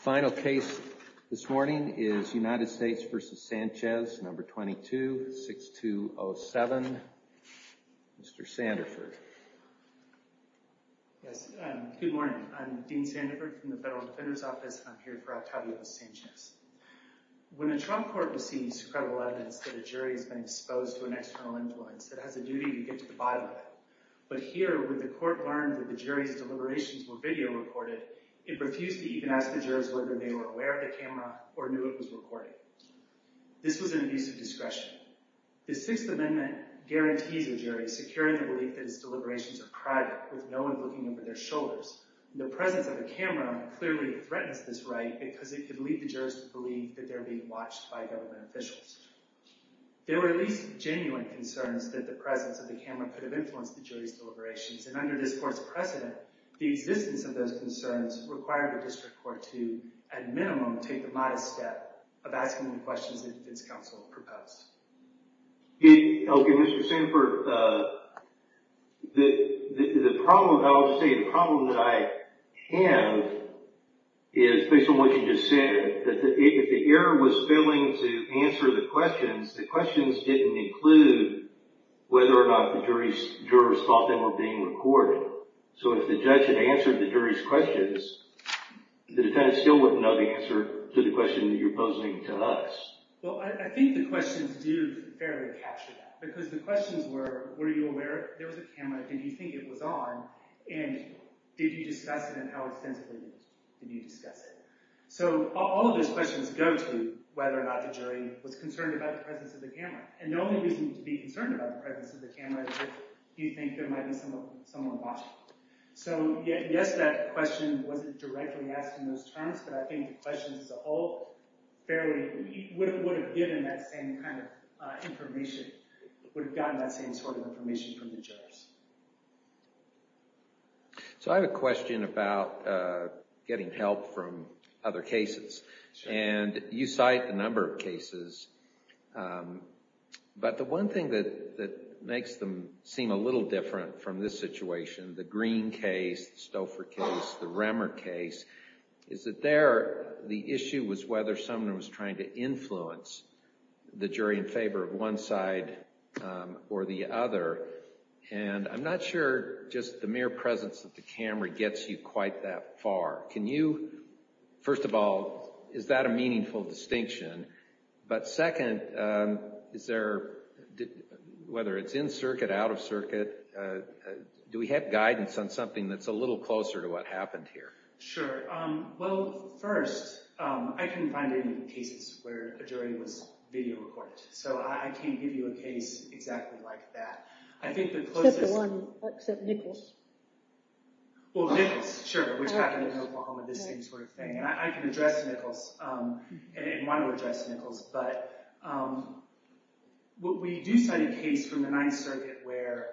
Final case this morning is United States v. Sanchez, No. 22-6207. Mr. Sanderford. Yes, good morning. I'm Dean Sanderford from the Federal Defender's Office, and I'm here for Octavio Sanchez. When a Trump court receives credible evidence that a jury has been exposed to an external influence, it has a duty to get to the bottom of it. But here, when the court learned that the jury's deliberations were video recorded, it refused to even ask the jurors whether they were aware of the camera or knew it was recording. This was an abuse of discretion. The Sixth Amendment guarantees a jury securing the belief that its deliberations are private, with no one looking over their shoulders. The presence of a camera clearly threatens this right because it could lead the jurors to believe that they're being watched by government officials. There were at least genuine concerns that the presence of the camera could have influenced the jury's deliberations, and under this court's precedent, the existence of those concerns required the district court to, at minimum, take the modest step of asking the questions that defense counsel proposed. Okay, Mr. Sanderford, I would say the problem that I have is based on what you just said. If the error was failing to answer the questions, the questions didn't include whether or not the jurors thought they were being recorded. So if the judge had answered the jury's questions, the defendant still wouldn't know the answer to the question that you're posing to us. Well, I think the questions do fairly capture that, because the questions were, were you aware there was a camera, did you think it was on, and did you discuss it, and how extensively did you discuss it? So all of those questions go to whether or not the jury was concerned about the presence of the camera, and the only reason to be concerned about the presence of the camera is if you think there might be someone watching. So yes, that question wasn't directly asked in those terms, but I think the questions all fairly, would have given that same kind of information, would have gotten that same sort of information from the jurors. So I have a question about getting help from other cases, and you cite a number of cases, but the one thing that makes them seem a little different from this situation, the Green case, the Stouffer case, the Remmer case, is that there the issue was whether someone was trying to influence the jury in favor of one side or the other, and I'm not sure just the mere presence of the camera gets you quite that far. Can you, first of all, is that a meaningful distinction, but second, is there, whether it's in circuit, out of circuit, do we have guidance on something that's a little closer to what happened here? Sure. Well, first, I couldn't find any cases where a jury was video recorded, so I can't give you a case exactly like that. Except the one, except Nichols. Well, Nichols, sure, which happened in Oklahoma, the same sort of thing, and I can address Nichols, and want to address Nichols, but we do cite a case from the Ninth Circuit where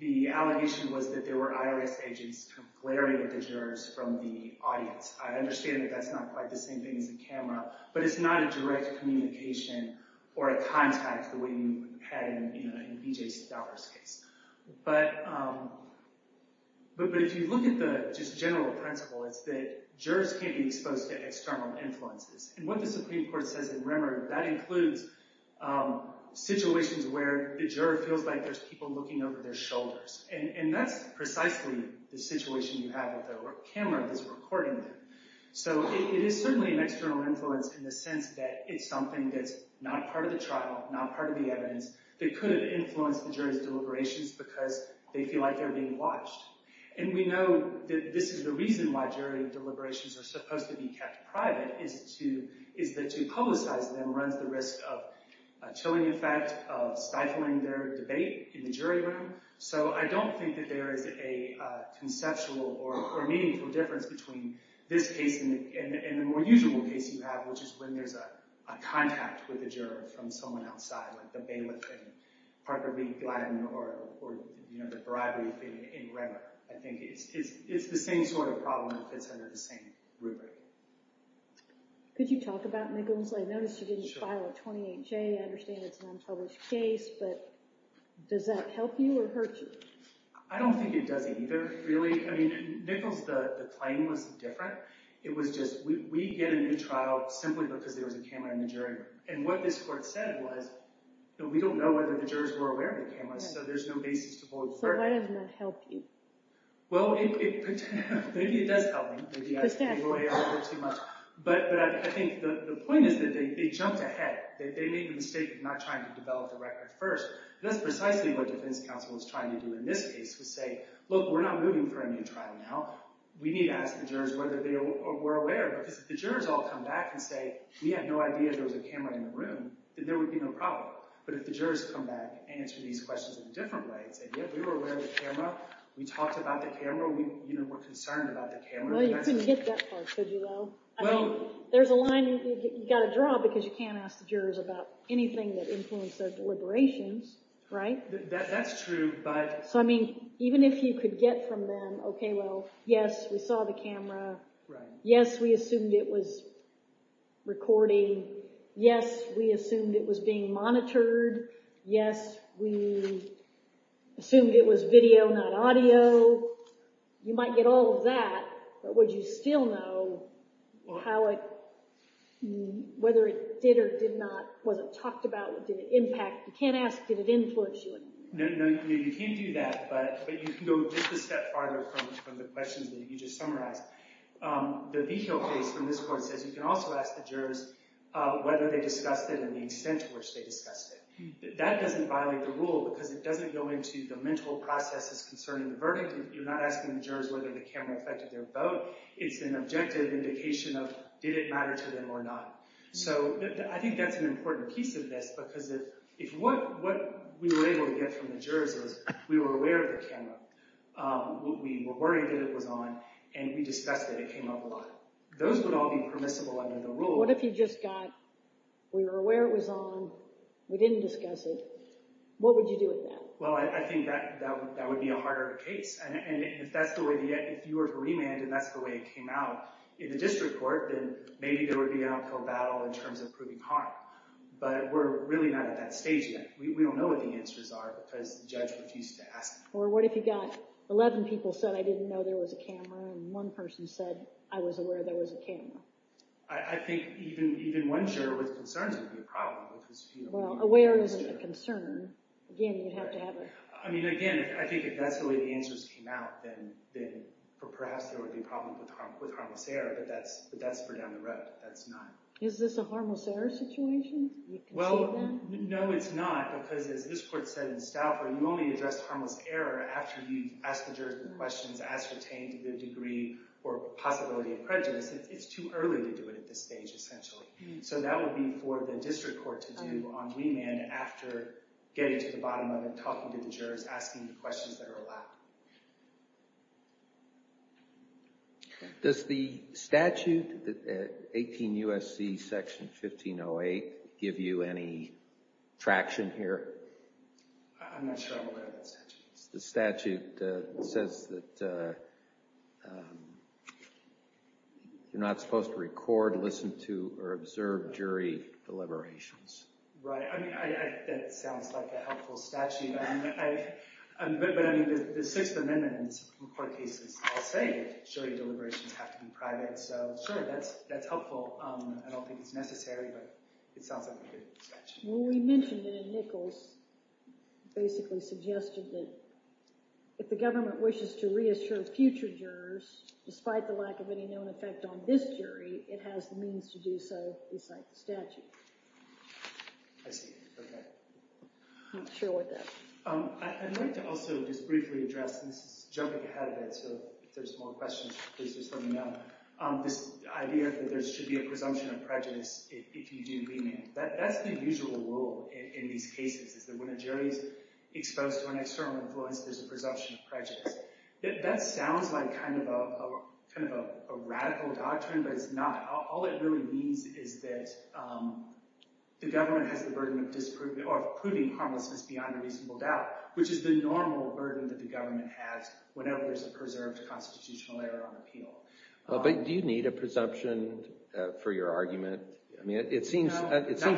the allegation was that there were IRS agents glaring at the jurors from the audience. I understand that that's not quite the same thing as a camera, but it's not a direct communication or a contact the way you had in B.J. Stouffer's case. But if you look at the just general principle, it's that jurors can't be exposed to external influences, and what the Supreme Court says in Remmer, that includes situations where the juror feels like there's people looking over their shoulders, and that's precisely the situation you have with a camera that's recording them. So it is certainly an external influence in the sense that it's something that's not part of the trial, not part of the evidence, that could have influenced the jury's deliberations because they feel like they're being watched. And we know that this is the reason why jury deliberations are supposed to be kept private, is that to publicize them runs the risk of a chilling effect, of stifling their debate in the jury room. So I don't think that there is a conceptual or meaningful difference between this case and the more usual case you have, which is when there's a contact with a juror from someone outside, like the bailiff in Parker v. Gladden or the bribery thing in Remmer. I think it's the same sort of problem that fits under the same rubric. Could you talk about Nichols? I noticed you didn't file a 28-J. I understand it's an unpublished case, but does that help you or hurt you? I don't think it does either, really. I mean, Nichols, the claim was different. It was just, we get a new trial simply because there was a camera in the jury room. And what this court said was that we don't know whether the jurors were aware of the cameras, so there's no basis to vote for it. So why doesn't that help you? Well, maybe it does help me. But I think the point is that they jumped ahead. They made the mistake of not trying to develop the record first. And that's precisely what defense counsel was trying to do in this case, was say, look, we're not moving for a new trial now. We need to ask the jurors whether they were aware. Because if the jurors all come back and say, we had no idea there was a camera in the room, then there would be no problem. But if the jurors come back and answer these questions in a different way and say, yeah, we were aware of the camera. We talked about the camera. We were concerned about the camera. Well, you couldn't get that far, could you, though? I mean, there's a line you've got to draw because you can't ask the jurors about anything that influenced their deliberations, right? That's true, but— So, I mean, even if you could get from them, okay, well, yes, we saw the camera. Yes, we assumed it was recording. Yes, we assumed it was being monitored. Yes, we assumed it was video, not audio. You might get all of that, but would you still know how it—whether it did or did not—was it talked about? Did it impact? You can't ask, did it influence you? No, you can't do that, but you can go just a step farther from the questions that you just summarized. The Vigil case from this court says you can also ask the jurors whether they discussed it and the extent to which they discussed it. That doesn't violate the rule because it doesn't go into the mental processes concerning the verdict. You're not asking the jurors whether the camera affected their vote. It's an objective indication of did it matter to them or not. So, I think that's an important piece of this because if what we were able to get from the jurors was we were aware of the camera, we were worried that it was on, and we discussed it, it came up a lot. Those would all be permissible under the rule. What if you just got, we were aware it was on, we didn't discuss it, what would you do with that? Well, I think that would be a harder case, and if that's the way—if you were to remand and that's the way it came out in the district court, then maybe there would be an outcome battle in terms of proving harm. But we're really not at that stage yet. We don't know what the answers are because the judge refused to ask them. Or what if you got 11 people said, I didn't know there was a camera, and one person said, I was aware there was a camera. I think even one juror with concerns would be a problem because— Well, aware is a concern. Again, you'd have to have a— Is this a harmless error situation? Well, no, it's not because as this court said in Stauffer, you only address harmless error after you've asked the jurors the questions ascertained to the degree or possibility of prejudice. It's too early to do it at this stage, essentially. So that would be for the district court to do on remand after getting to the bottom of it, talking to the jurors, asking the questions that are allowed. Does the statute, 18 U.S.C. section 1508, give you any traction here? I'm not sure I'm aware of that statute. The statute says that you're not supposed to record, listen to, or observe jury deliberations. Right. That sounds like a helpful statute. But I mean, the Sixth Amendment in court cases all say that jury deliberations have to be private, so that's helpful. I don't think it's necessary, but it sounds like a good statute. Well, we mentioned it in Nichols. It basically suggested that if the government wishes to reassure future jurors, despite the lack of any known effect on this jury, it has the means to do so beside the statute. I see. Okay. I'm not sure what that is. I'd like to also just briefly address, and this is jumping ahead a bit, so if there's more questions, please just let me know, this idea that there should be a presumption of prejudice if you do remand. That's the usual rule in these cases, is that when a jury is exposed to an external influence, there's a presumption of prejudice. That sounds like kind of a radical doctrine, but it's not. All it really means is that the government has the burden of proving harmlessness beyond a reasonable doubt, which is the normal burden that the government has whenever there's a preserved constitutional error on appeal. But do you need a presumption for your argument? I mean, it seems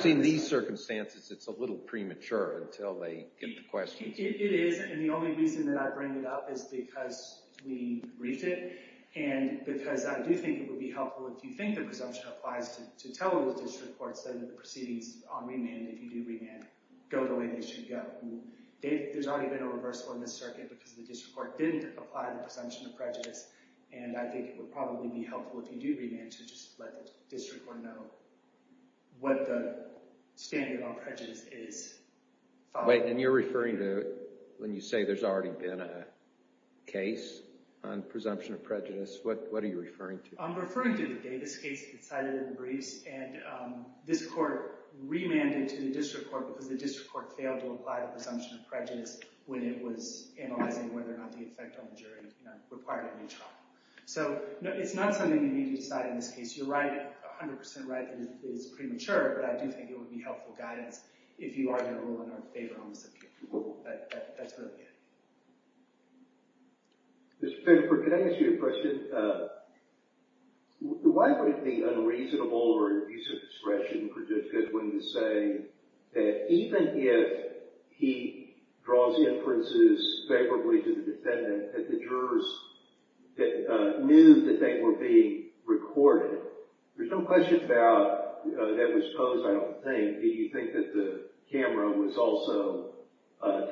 in these circumstances it's a little premature until they get the questions. It is, and the only reason that I bring it up is because we briefed it, and because I do think it would be helpful if you think the presumption applies to tell the district courts that the proceedings on remand, if you do remand, go the way they should go. There's already been a reversal in this circuit because the district court didn't apply the presumption of prejudice, and I think it would probably be helpful if you do remand to just let the district court know what the standard on prejudice is. Wait, and you're referring to when you say there's already been a case on presumption of prejudice? What are you referring to? I'm referring to the Davis case that was cited in the briefs, and this court remanded to the district court because the district court failed to apply the presumption of prejudice when it was analyzing whether or not the effect on the jury required a new trial. So it's not something you need to decide in this case. It's your right, 100% right, and it's premature, but I do think it would be helpful guidance if you are going to rule in our favor on this case. That's what I'm getting at. Mr. Fennifer, can I ask you a question? Why would it be unreasonable or an abuse of discretion for Judge Goodwin to say that even if he draws inferences favorably to the defendant that the jurors knew that they were being recorded? There's no question about that was posed, I don't think. Do you think that the camera was also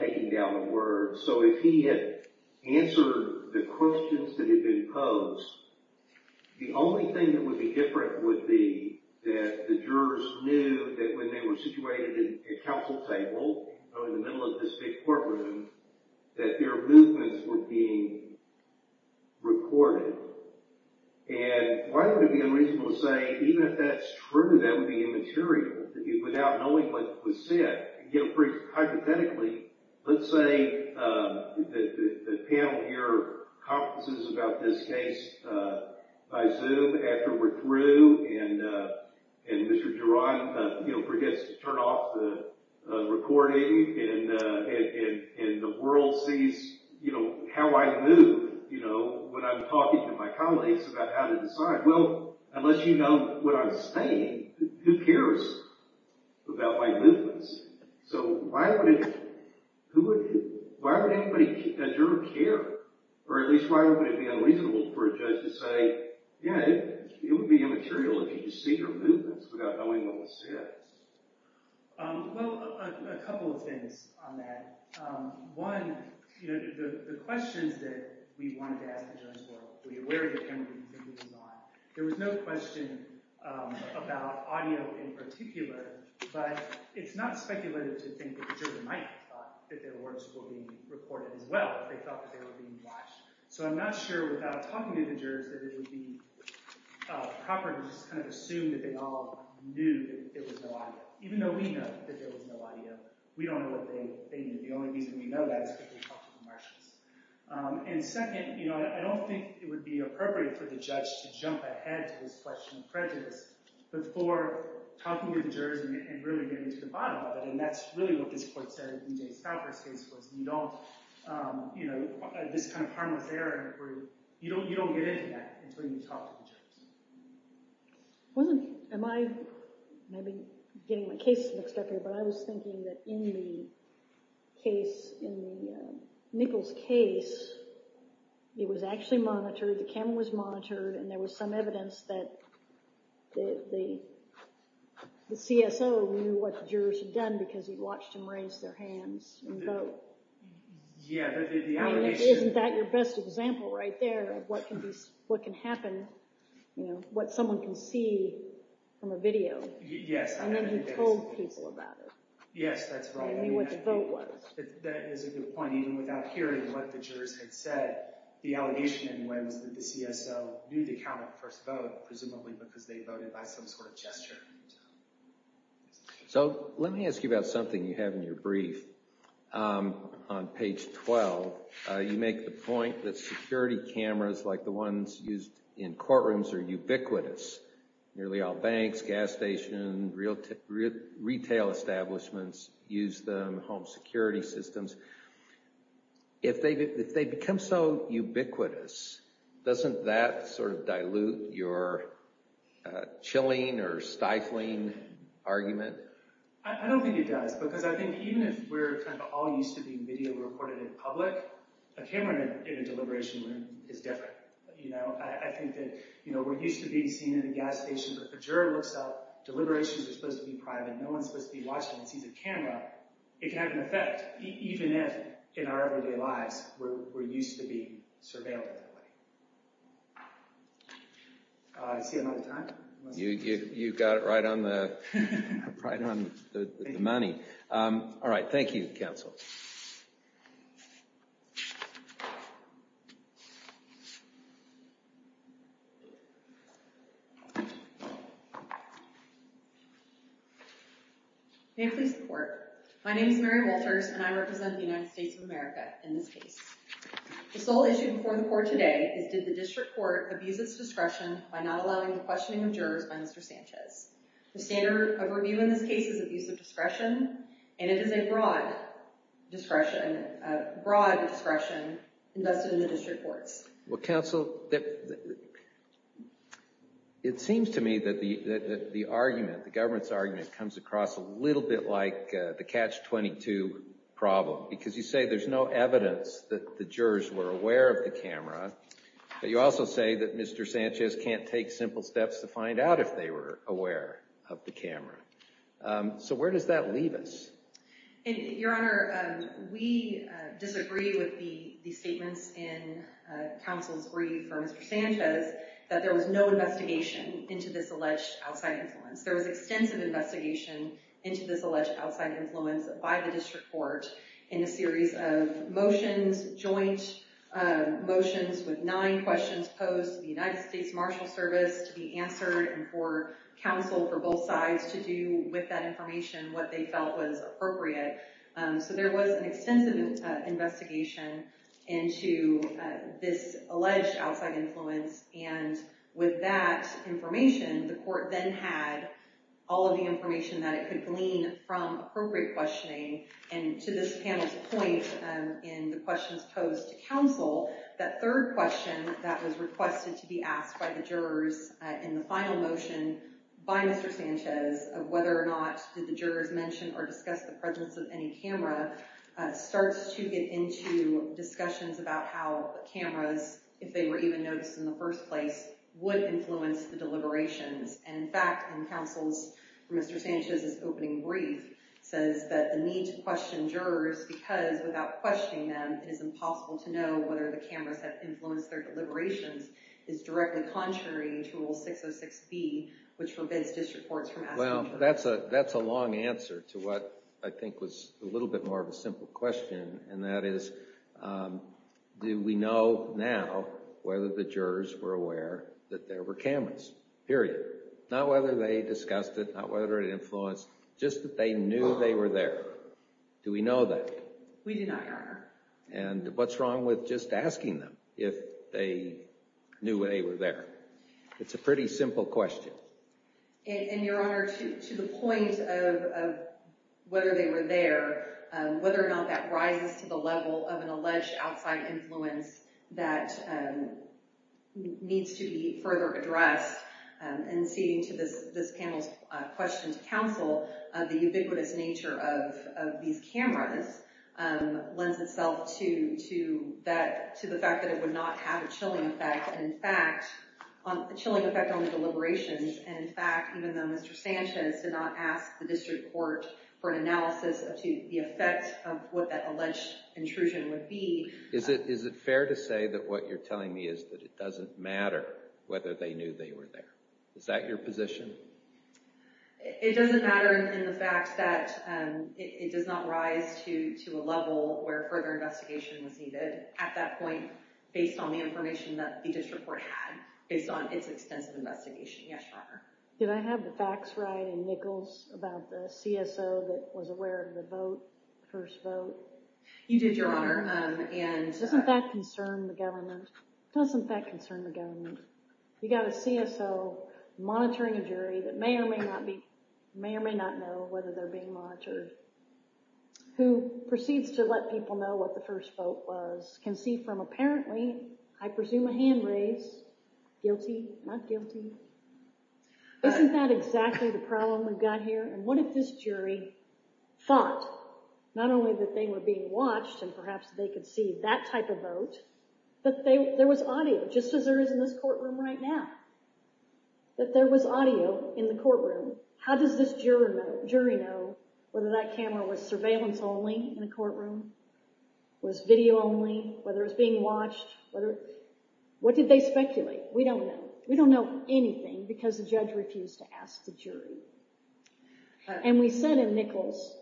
taking down the words? So if he had answered the questions that had been posed, the only thing that would be different would be that the jurors knew that when they were situated at counsel table, in the middle of this big courtroom, that their movements were being recorded. And why would it be unreasonable to say even if that's true that would be immaterial without knowing what was said? You know, hypothetically, let's say the panel here conferences about this case by Zoom after we're through and Mr. Duran forgets to turn off the recording and the world sees how I move when I'm talking to my colleagues about how to decide. Well, unless you know what I'm saying, who cares about my movements? So why would anybody at your care, or at least why would it be unreasonable for a judge to say, yeah, it would be immaterial if you could see your movements without knowing what was said? Well, a couple of things on that. One, the questions that we wanted to ask the judge were, were you aware of your camera being taken down? There was no question about audio in particular, but it's not speculative to think that the jury might have thought that their words were being recorded as well. They thought that they were being watched. So I'm not sure without talking to the jurors that it would be proper to just kind of assume that they all knew that there was no audio. Even though we know that there was no audio, we don't know what they knew. The only reason we know that is because we talked to the marshals. And second, I don't think it would be appropriate for the judge to jump ahead to this question of prejudice before talking to the jurors and really getting to the bottom of it. And that's really what this court said in Jay Stalker's case, was this kind of harmless error, you don't get into that until you talk to the jurors. Am I maybe getting my case mixed up here? But I was thinking that in the case, in the Nichols case, it was actually monitored, the camera was monitored, and there was some evidence that the CSO knew what the jurors had done because he watched them raise their hands and vote. Isn't that your best example right there of what can happen, what someone can see from a video, and then he told people about it? Yes, that's right. What the vote was. That is a good point. Even without hearing what the jurors had said, the allegation anyway was that the CSO knew the count of the first vote, presumably because they voted by some sort of gesture. So let me ask you about something you have in your brief. On page 12, you make the point that security cameras like the ones used in courtrooms are ubiquitous. Nearly all banks, gas stations, retail establishments use them, home security systems. If they become so ubiquitous, doesn't that sort of dilute your chilling or stifling argument? I don't think it does because I think even if we're kind of all used to being video reported in public, a camera in a deliberation room is different. I think that we're used to being seen in a gas station, but if a juror looks out, deliberations are supposed to be private, no one is supposed to be watching and sees a camera. It can have an effect, even if in our everyday lives we're used to being surveilled that way. I see I'm out of time? You got it right on the money. All right. Thank you, counsel. May I please report? My name is Mary Wolters, and I represent the United States of America in this case. The sole issue before the court today is did the district court abuse its discretion by not allowing the questioning of jurors by Mr. Sanchez? The standard of review in this case is abuse of discretion, and it is a broad discretion invested in the district courts. Well, counsel, it seems to me that the argument, the government's argument, comes across a little bit like the Catch-22 problem, because you say there's no evidence that the jurors were aware of the camera, but you also say that Mr. Sanchez can't take simple steps to find out if they were aware of the camera. So where does that leave us? Your Honor, we disagree with the statements in counsel's brief for Mr. Sanchez that there was no investigation into this alleged outside influence. There was extensive investigation into this alleged outside influence by the district court in a series of motions, joint motions with nine questions posed to the United States Marshal Service to be answered and for counsel for both sides to do with that information what they felt was appropriate. So there was an extensive investigation into this alleged outside influence, and with that information, the court then had all of the information that it could glean from appropriate questioning. And to this panel's point in the questions posed to counsel, that third question that was requested to be asked by the jurors in the final motion by Mr. Sanchez of whether or not did the jurors mention or discuss the presence of any camera starts to get into discussions about how cameras, if they were even noticed in the first place, would influence the deliberations. And in fact, in counsel's, Mr. Sanchez's opening brief, says that the need to question jurors because without questioning them, it is impossible to know whether the cameras have influenced their deliberations is directly contrary to Rule 606B, which forbids district courts from asking jurors. That's a long answer to what I think was a little bit more of a simple question, and that is, do we know now whether the jurors were aware that there were cameras, period? Not whether they discussed it, not whether it influenced, just that they knew they were there. Do we know that? We do not, Your Honor. And what's wrong with just asking them if they knew they were there? It's a pretty simple question. And Your Honor, to the point of whether they were there, whether or not that rises to the level of an alleged outside influence that needs to be further addressed, and ceding to this panel's question to counsel, the ubiquitous nature of these cameras lends itself to the fact that it would not have a chilling effect. And in fact, a chilling effect on the deliberations, and in fact, even though Mr. Sanchez did not ask the district court for an analysis as to the effect of what that alleged intrusion would be. Is it fair to say that what you're telling me is that it doesn't matter whether they knew they were there? Is that your position? It doesn't matter in the fact that it does not rise to a level where further investigation was needed at that point, based on the information that the district court had, based on its extensive investigation, yes, Your Honor. Did I have the facts right in Nichols about the CSO that was aware of the vote, first vote? You did, Your Honor. Doesn't that concern the government? Doesn't that concern the government? You got a CSO monitoring a jury that may or may not know whether they're being monitored, who proceeds to let people know what the first vote was, can see from apparently, I presume a hand raised, guilty, not guilty. Isn't that exactly the problem we've got here? And what if this jury thought not only that they were being watched and perhaps they could see that type of vote, but there was audio, just as there is in this courtroom right now, that there was audio in the courtroom. How does this jury know whether that camera was surveillance only in the courtroom, was video only, whether it was being watched? What did they speculate? We don't know. We don't know anything because the judge refused to ask the jury. And we said in Nichols,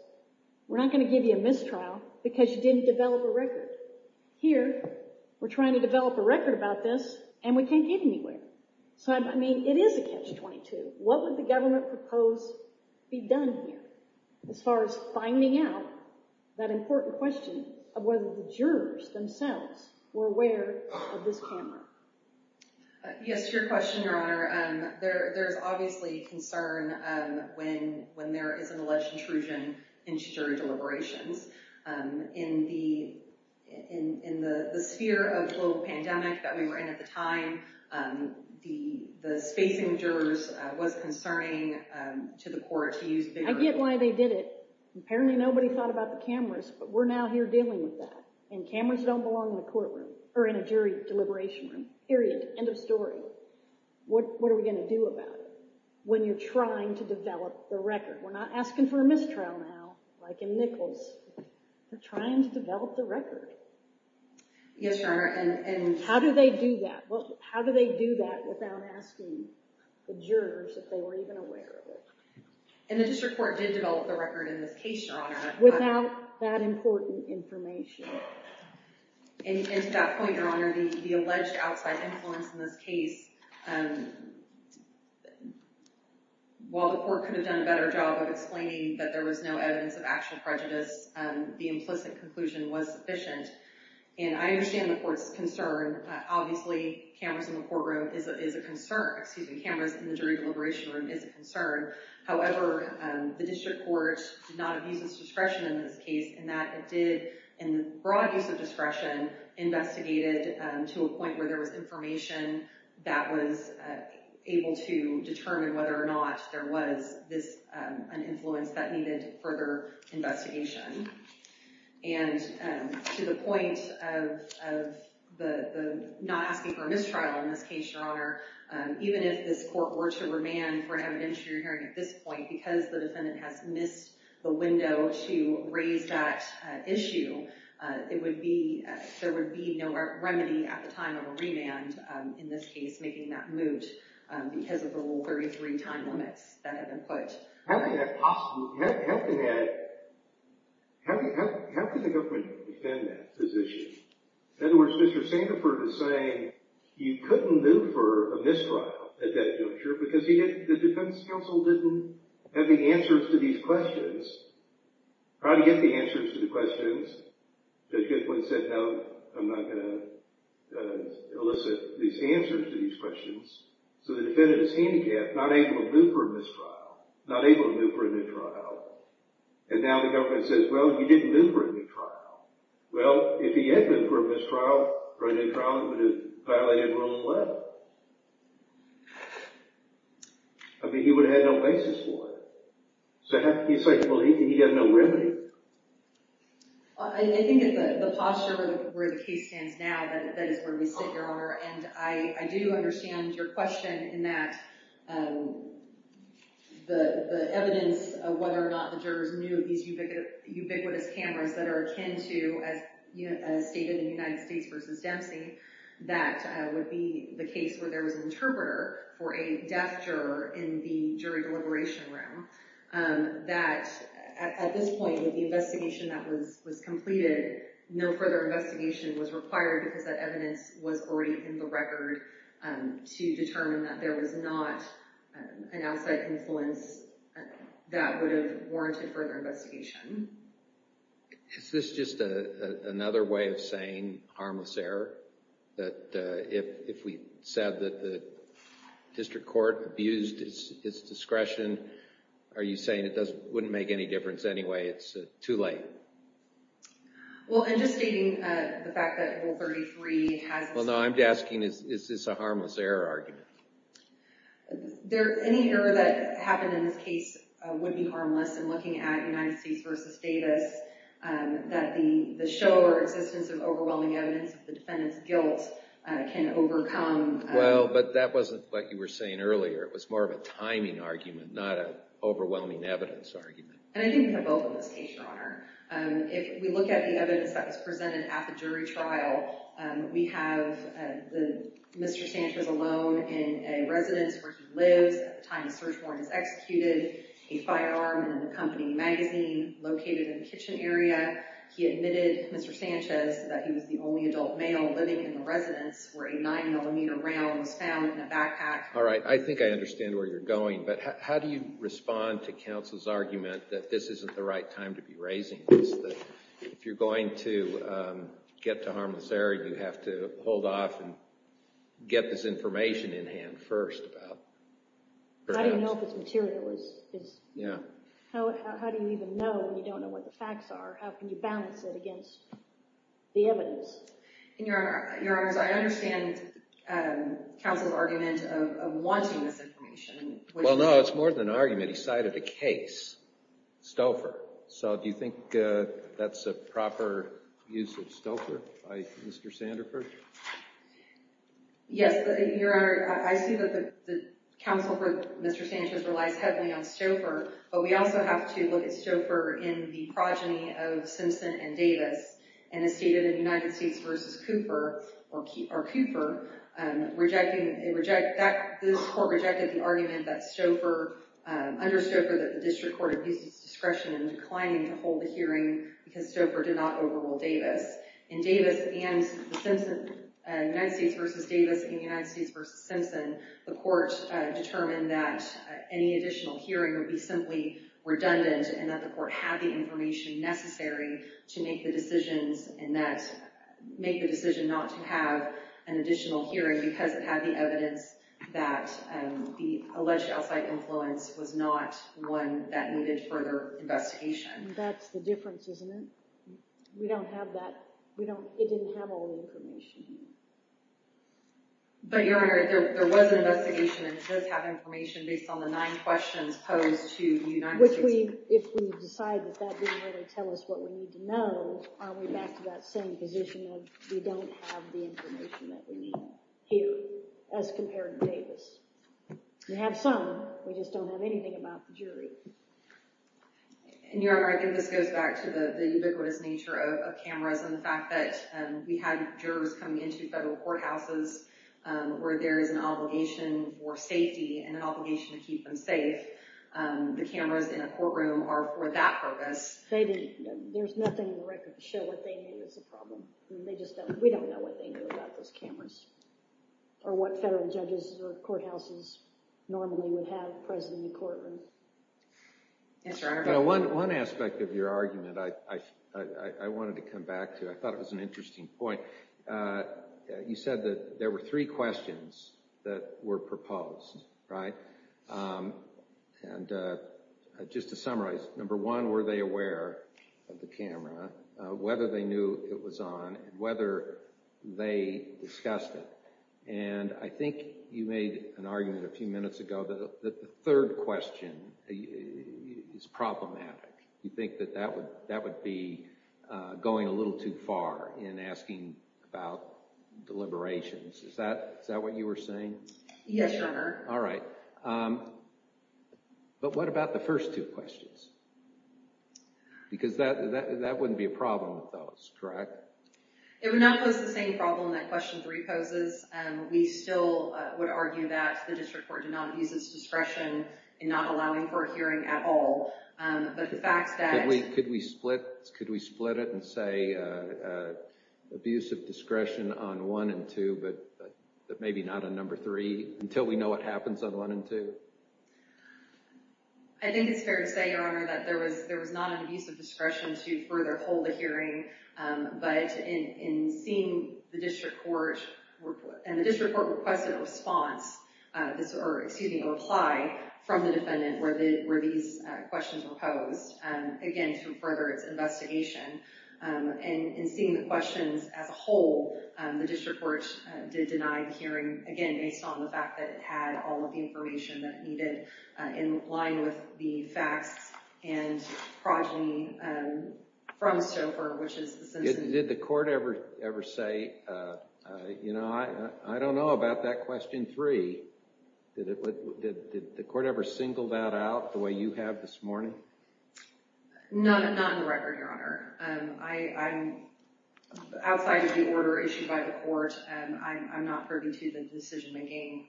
we're not going to give you a mistrial because you didn't develop a record. Here, we're trying to develop a record about this, and we can't get anywhere. So, I mean, it is a Catch-22. What would the government propose be done here as far as finding out that important question of whether the jurors themselves were aware of this camera? Yes, to your question, Your Honor, there is obviously concern when there is an alleged intrusion into jury deliberations. In the sphere of the global pandemic that we were in at the time, the spacing of jurors was concerning to the court to use video. I get why they did it. Apparently, nobody thought about the cameras, but we're now here dealing with that, and cameras don't belong in the courtroom or in a jury deliberation room, period. End of story. What are we going to do about it when you're trying to develop the record? We're not asking for a mistrial now, like in Nichols. We're trying to develop the record. Yes, Your Honor. How do they do that? How do they do that without asking the jurors if they were even aware of it? And the district court did develop the record in this case, Your Honor. Without that important information. And to that point, Your Honor, the alleged outside influence in this case, while the court could have done a better job of explaining that there was no evidence of actual prejudice, the implicit conclusion was sufficient. And I understand the court's concern. Obviously, cameras in the courtroom is a concern. Excuse me, cameras in the jury deliberation room is a concern. However, the district court did not abuse its discretion in this case in that it did, in broad use of discretion, investigated to a point where there was information that was able to determine whether or not there was an influence that needed further investigation. And to the point of not asking for a mistrial in this case, Your Honor, even if this court were to remand for an evidentiary hearing at this point, because the defendant has missed the window to raise that issue, there would be no remedy at the time of a remand in this case, making that moot because of the Rule 33 time limits that have been put. How can the government defend that position? In other words, Mr. Sandiford is saying you couldn't moot for a mistrial at that juncture because the defense counsel didn't have the answers to these questions. How do you get the answers to the questions? Judge Goodwin said, no, I'm not going to elicit these answers to these questions. So the defendant is handicapped, not able to moot for a mistrial, not able to moot for a new trial. And now the government says, well, you didn't moot for a new trial. Well, if he had mooted for a mistrial, for a new trial, it would have violated Rule 11. I mean, he would have had no basis for it. So he's saying, well, he'd have no remedy. I think it's the posture of where the case stands now that is where we sit, Your Honor. And I do understand your question in that the evidence of whether or not the jurors knew of these ubiquitous cameras that are akin to, as stated in United States v. Dempsey, that would be the case where there was an interpreter for a deaf juror in the jury deliberation room. That at this point, with the investigation that was completed, no further investigation was required because that evidence was already in the record to determine that there was not an outside influence that would have warranted further investigation. Is this just another way of saying harmless error? That if we said that the district court abused its discretion, are you saying it wouldn't make any difference anyway? It's too late. Well, I'm just stating the fact that Rule 33 has… Well, no, I'm asking, is this a harmless error argument? Any error that happened in this case would be harmless in looking at United States v. Davis, that the show or existence of overwhelming evidence of the defendant's guilt can overcome… Well, but that wasn't what you were saying earlier. It was more of a timing argument, not an overwhelming evidence argument. And I think we have both in this case, Your Honor. If we look at the evidence that was presented at the jury trial, we have Mr. Sanchez alone in a residence where he lives at the time the search warrant was executed, a firearm in the company magazine located in the kitchen area. He admitted, Mr. Sanchez, that he was the only adult male living in the residence where a 9mm round was found in a backpack. All right. I think I understand where you're going. But how do you respond to counsel's argument that this isn't the right time to be raising this, that if you're going to get to harmless error, you have to hold off and get this information in hand first about… How do you know if it's material? Yeah. How do you even know when you don't know what the facts are? How can you balance it against the evidence? Your Honor, I understand counsel's argument of wanting this information. Well, no, it's more than an argument. He cited a case, Stouffer. So do you think that's a proper use of Stouffer by Mr. Sanderford? Yes, Your Honor. I see that the counsel for Mr. Sanchez relies heavily on Stouffer, but we also have to look at Stouffer in the progeny of Simpson and Davis. And as stated in United States v. Cooper, this court rejected the argument that under Stouffer, the district court abuses discretion in declining to hold a hearing because Stouffer did not overrule Davis. In United States v. Davis and United States v. Simpson, the court determined that any additional hearing would be simply redundant and that the court had the information necessary to make the decision not to have an additional hearing because it had the evidence that the alleged outside influence was not one that needed further investigation. That's the difference, isn't it? We don't have that. It didn't have all the information. But, Your Honor, there was an investigation and it does have information based on the nine questions posed to United States. Which, if we decide that that didn't really tell us what we need to know, are we back to that same position of we don't have the information that we need here as compared to Davis? We have some. We just don't have anything about the jury. Your Honor, I think this goes back to the ubiquitous nature of cameras and the fact that we had jurors coming into federal courthouses where there is an obligation for safety and an obligation to keep them safe. The cameras in a courtroom are for that purpose. There's nothing in the record to show what they knew was the problem. We don't know what they knew about those cameras or what federal judges or courthouses normally would have present in the courtroom. Yes, Your Honor. One aspect of your argument I wanted to come back to. I thought it was an interesting point. You said that there were three questions that were proposed, right? And just to summarize, number one, were they aware of the camera? Whether they knew it was on and whether they discussed it? And I think you made an argument a few minutes ago that the third question is problematic. You think that that would be going a little too far in asking about deliberations. Is that what you were saying? Yes, Your Honor. All right. But what about the first two questions? Because that wouldn't be a problem with those, correct? It would not pose the same problem that question three poses. We still would argue that the district court did not abuse its discretion in not allowing for a hearing at all. But the fact that— Could we split it and say abuse of discretion on one and two, but maybe not on number three until we know what happens on one and two? I think it's fair to say, Your Honor, that there was not an abuse of discretion to further hold a hearing. But in seeing the district court—and the district court requested a response— or, excuse me, a reply from the defendant where these questions were posed, again, to further its investigation. And in seeing the questions as a whole, the district court did deny the hearing, again, based on the fact that it had all of the information that needed in line with the facts and progeny from Stouffer, which is the Simpson— Did the court ever say, you know, I don't know about that question three? Did the court ever single that out the way you have this morning? Outside of the order issued by the court, I'm not privy to the decision-making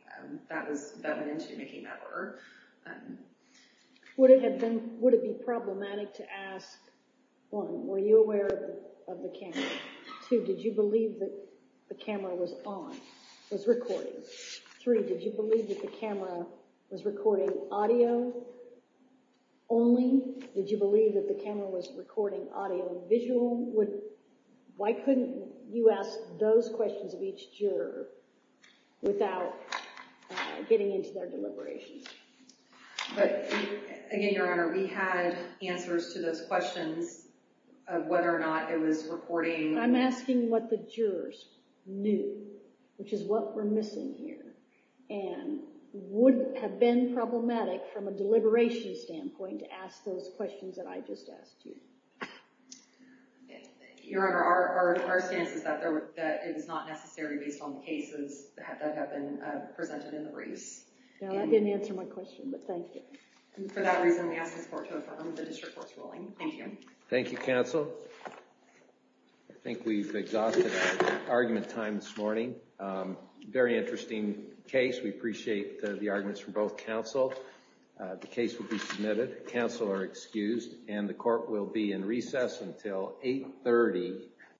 that went into making that order. Would it be problematic to ask, one, were you aware of the camera? Two, did you believe that the camera was on, was recording? Three, did you believe that the camera was recording audio only? Did you believe that the camera was recording audio and visual? Why couldn't you ask those questions of each juror without getting into their deliberations? But, again, Your Honor, we had answers to those questions of whether or not it was recording. I'm asking what the jurors knew, which is what we're missing here. And would it have been problematic from a deliberation standpoint to ask those questions that I just asked you? Your Honor, our stance is that it's not necessary based on the cases that have been presented in the briefs. Now, that didn't answer my question, but thank you. And for that reason, we ask this court to affirm the district court's ruling. Thank you. Thank you, counsel. I think we've exhausted our argument time this morning. Very interesting case. We appreciate the arguments from both counsel. The case will be submitted. Counsel are excused. And the court will be in recess until 8.30.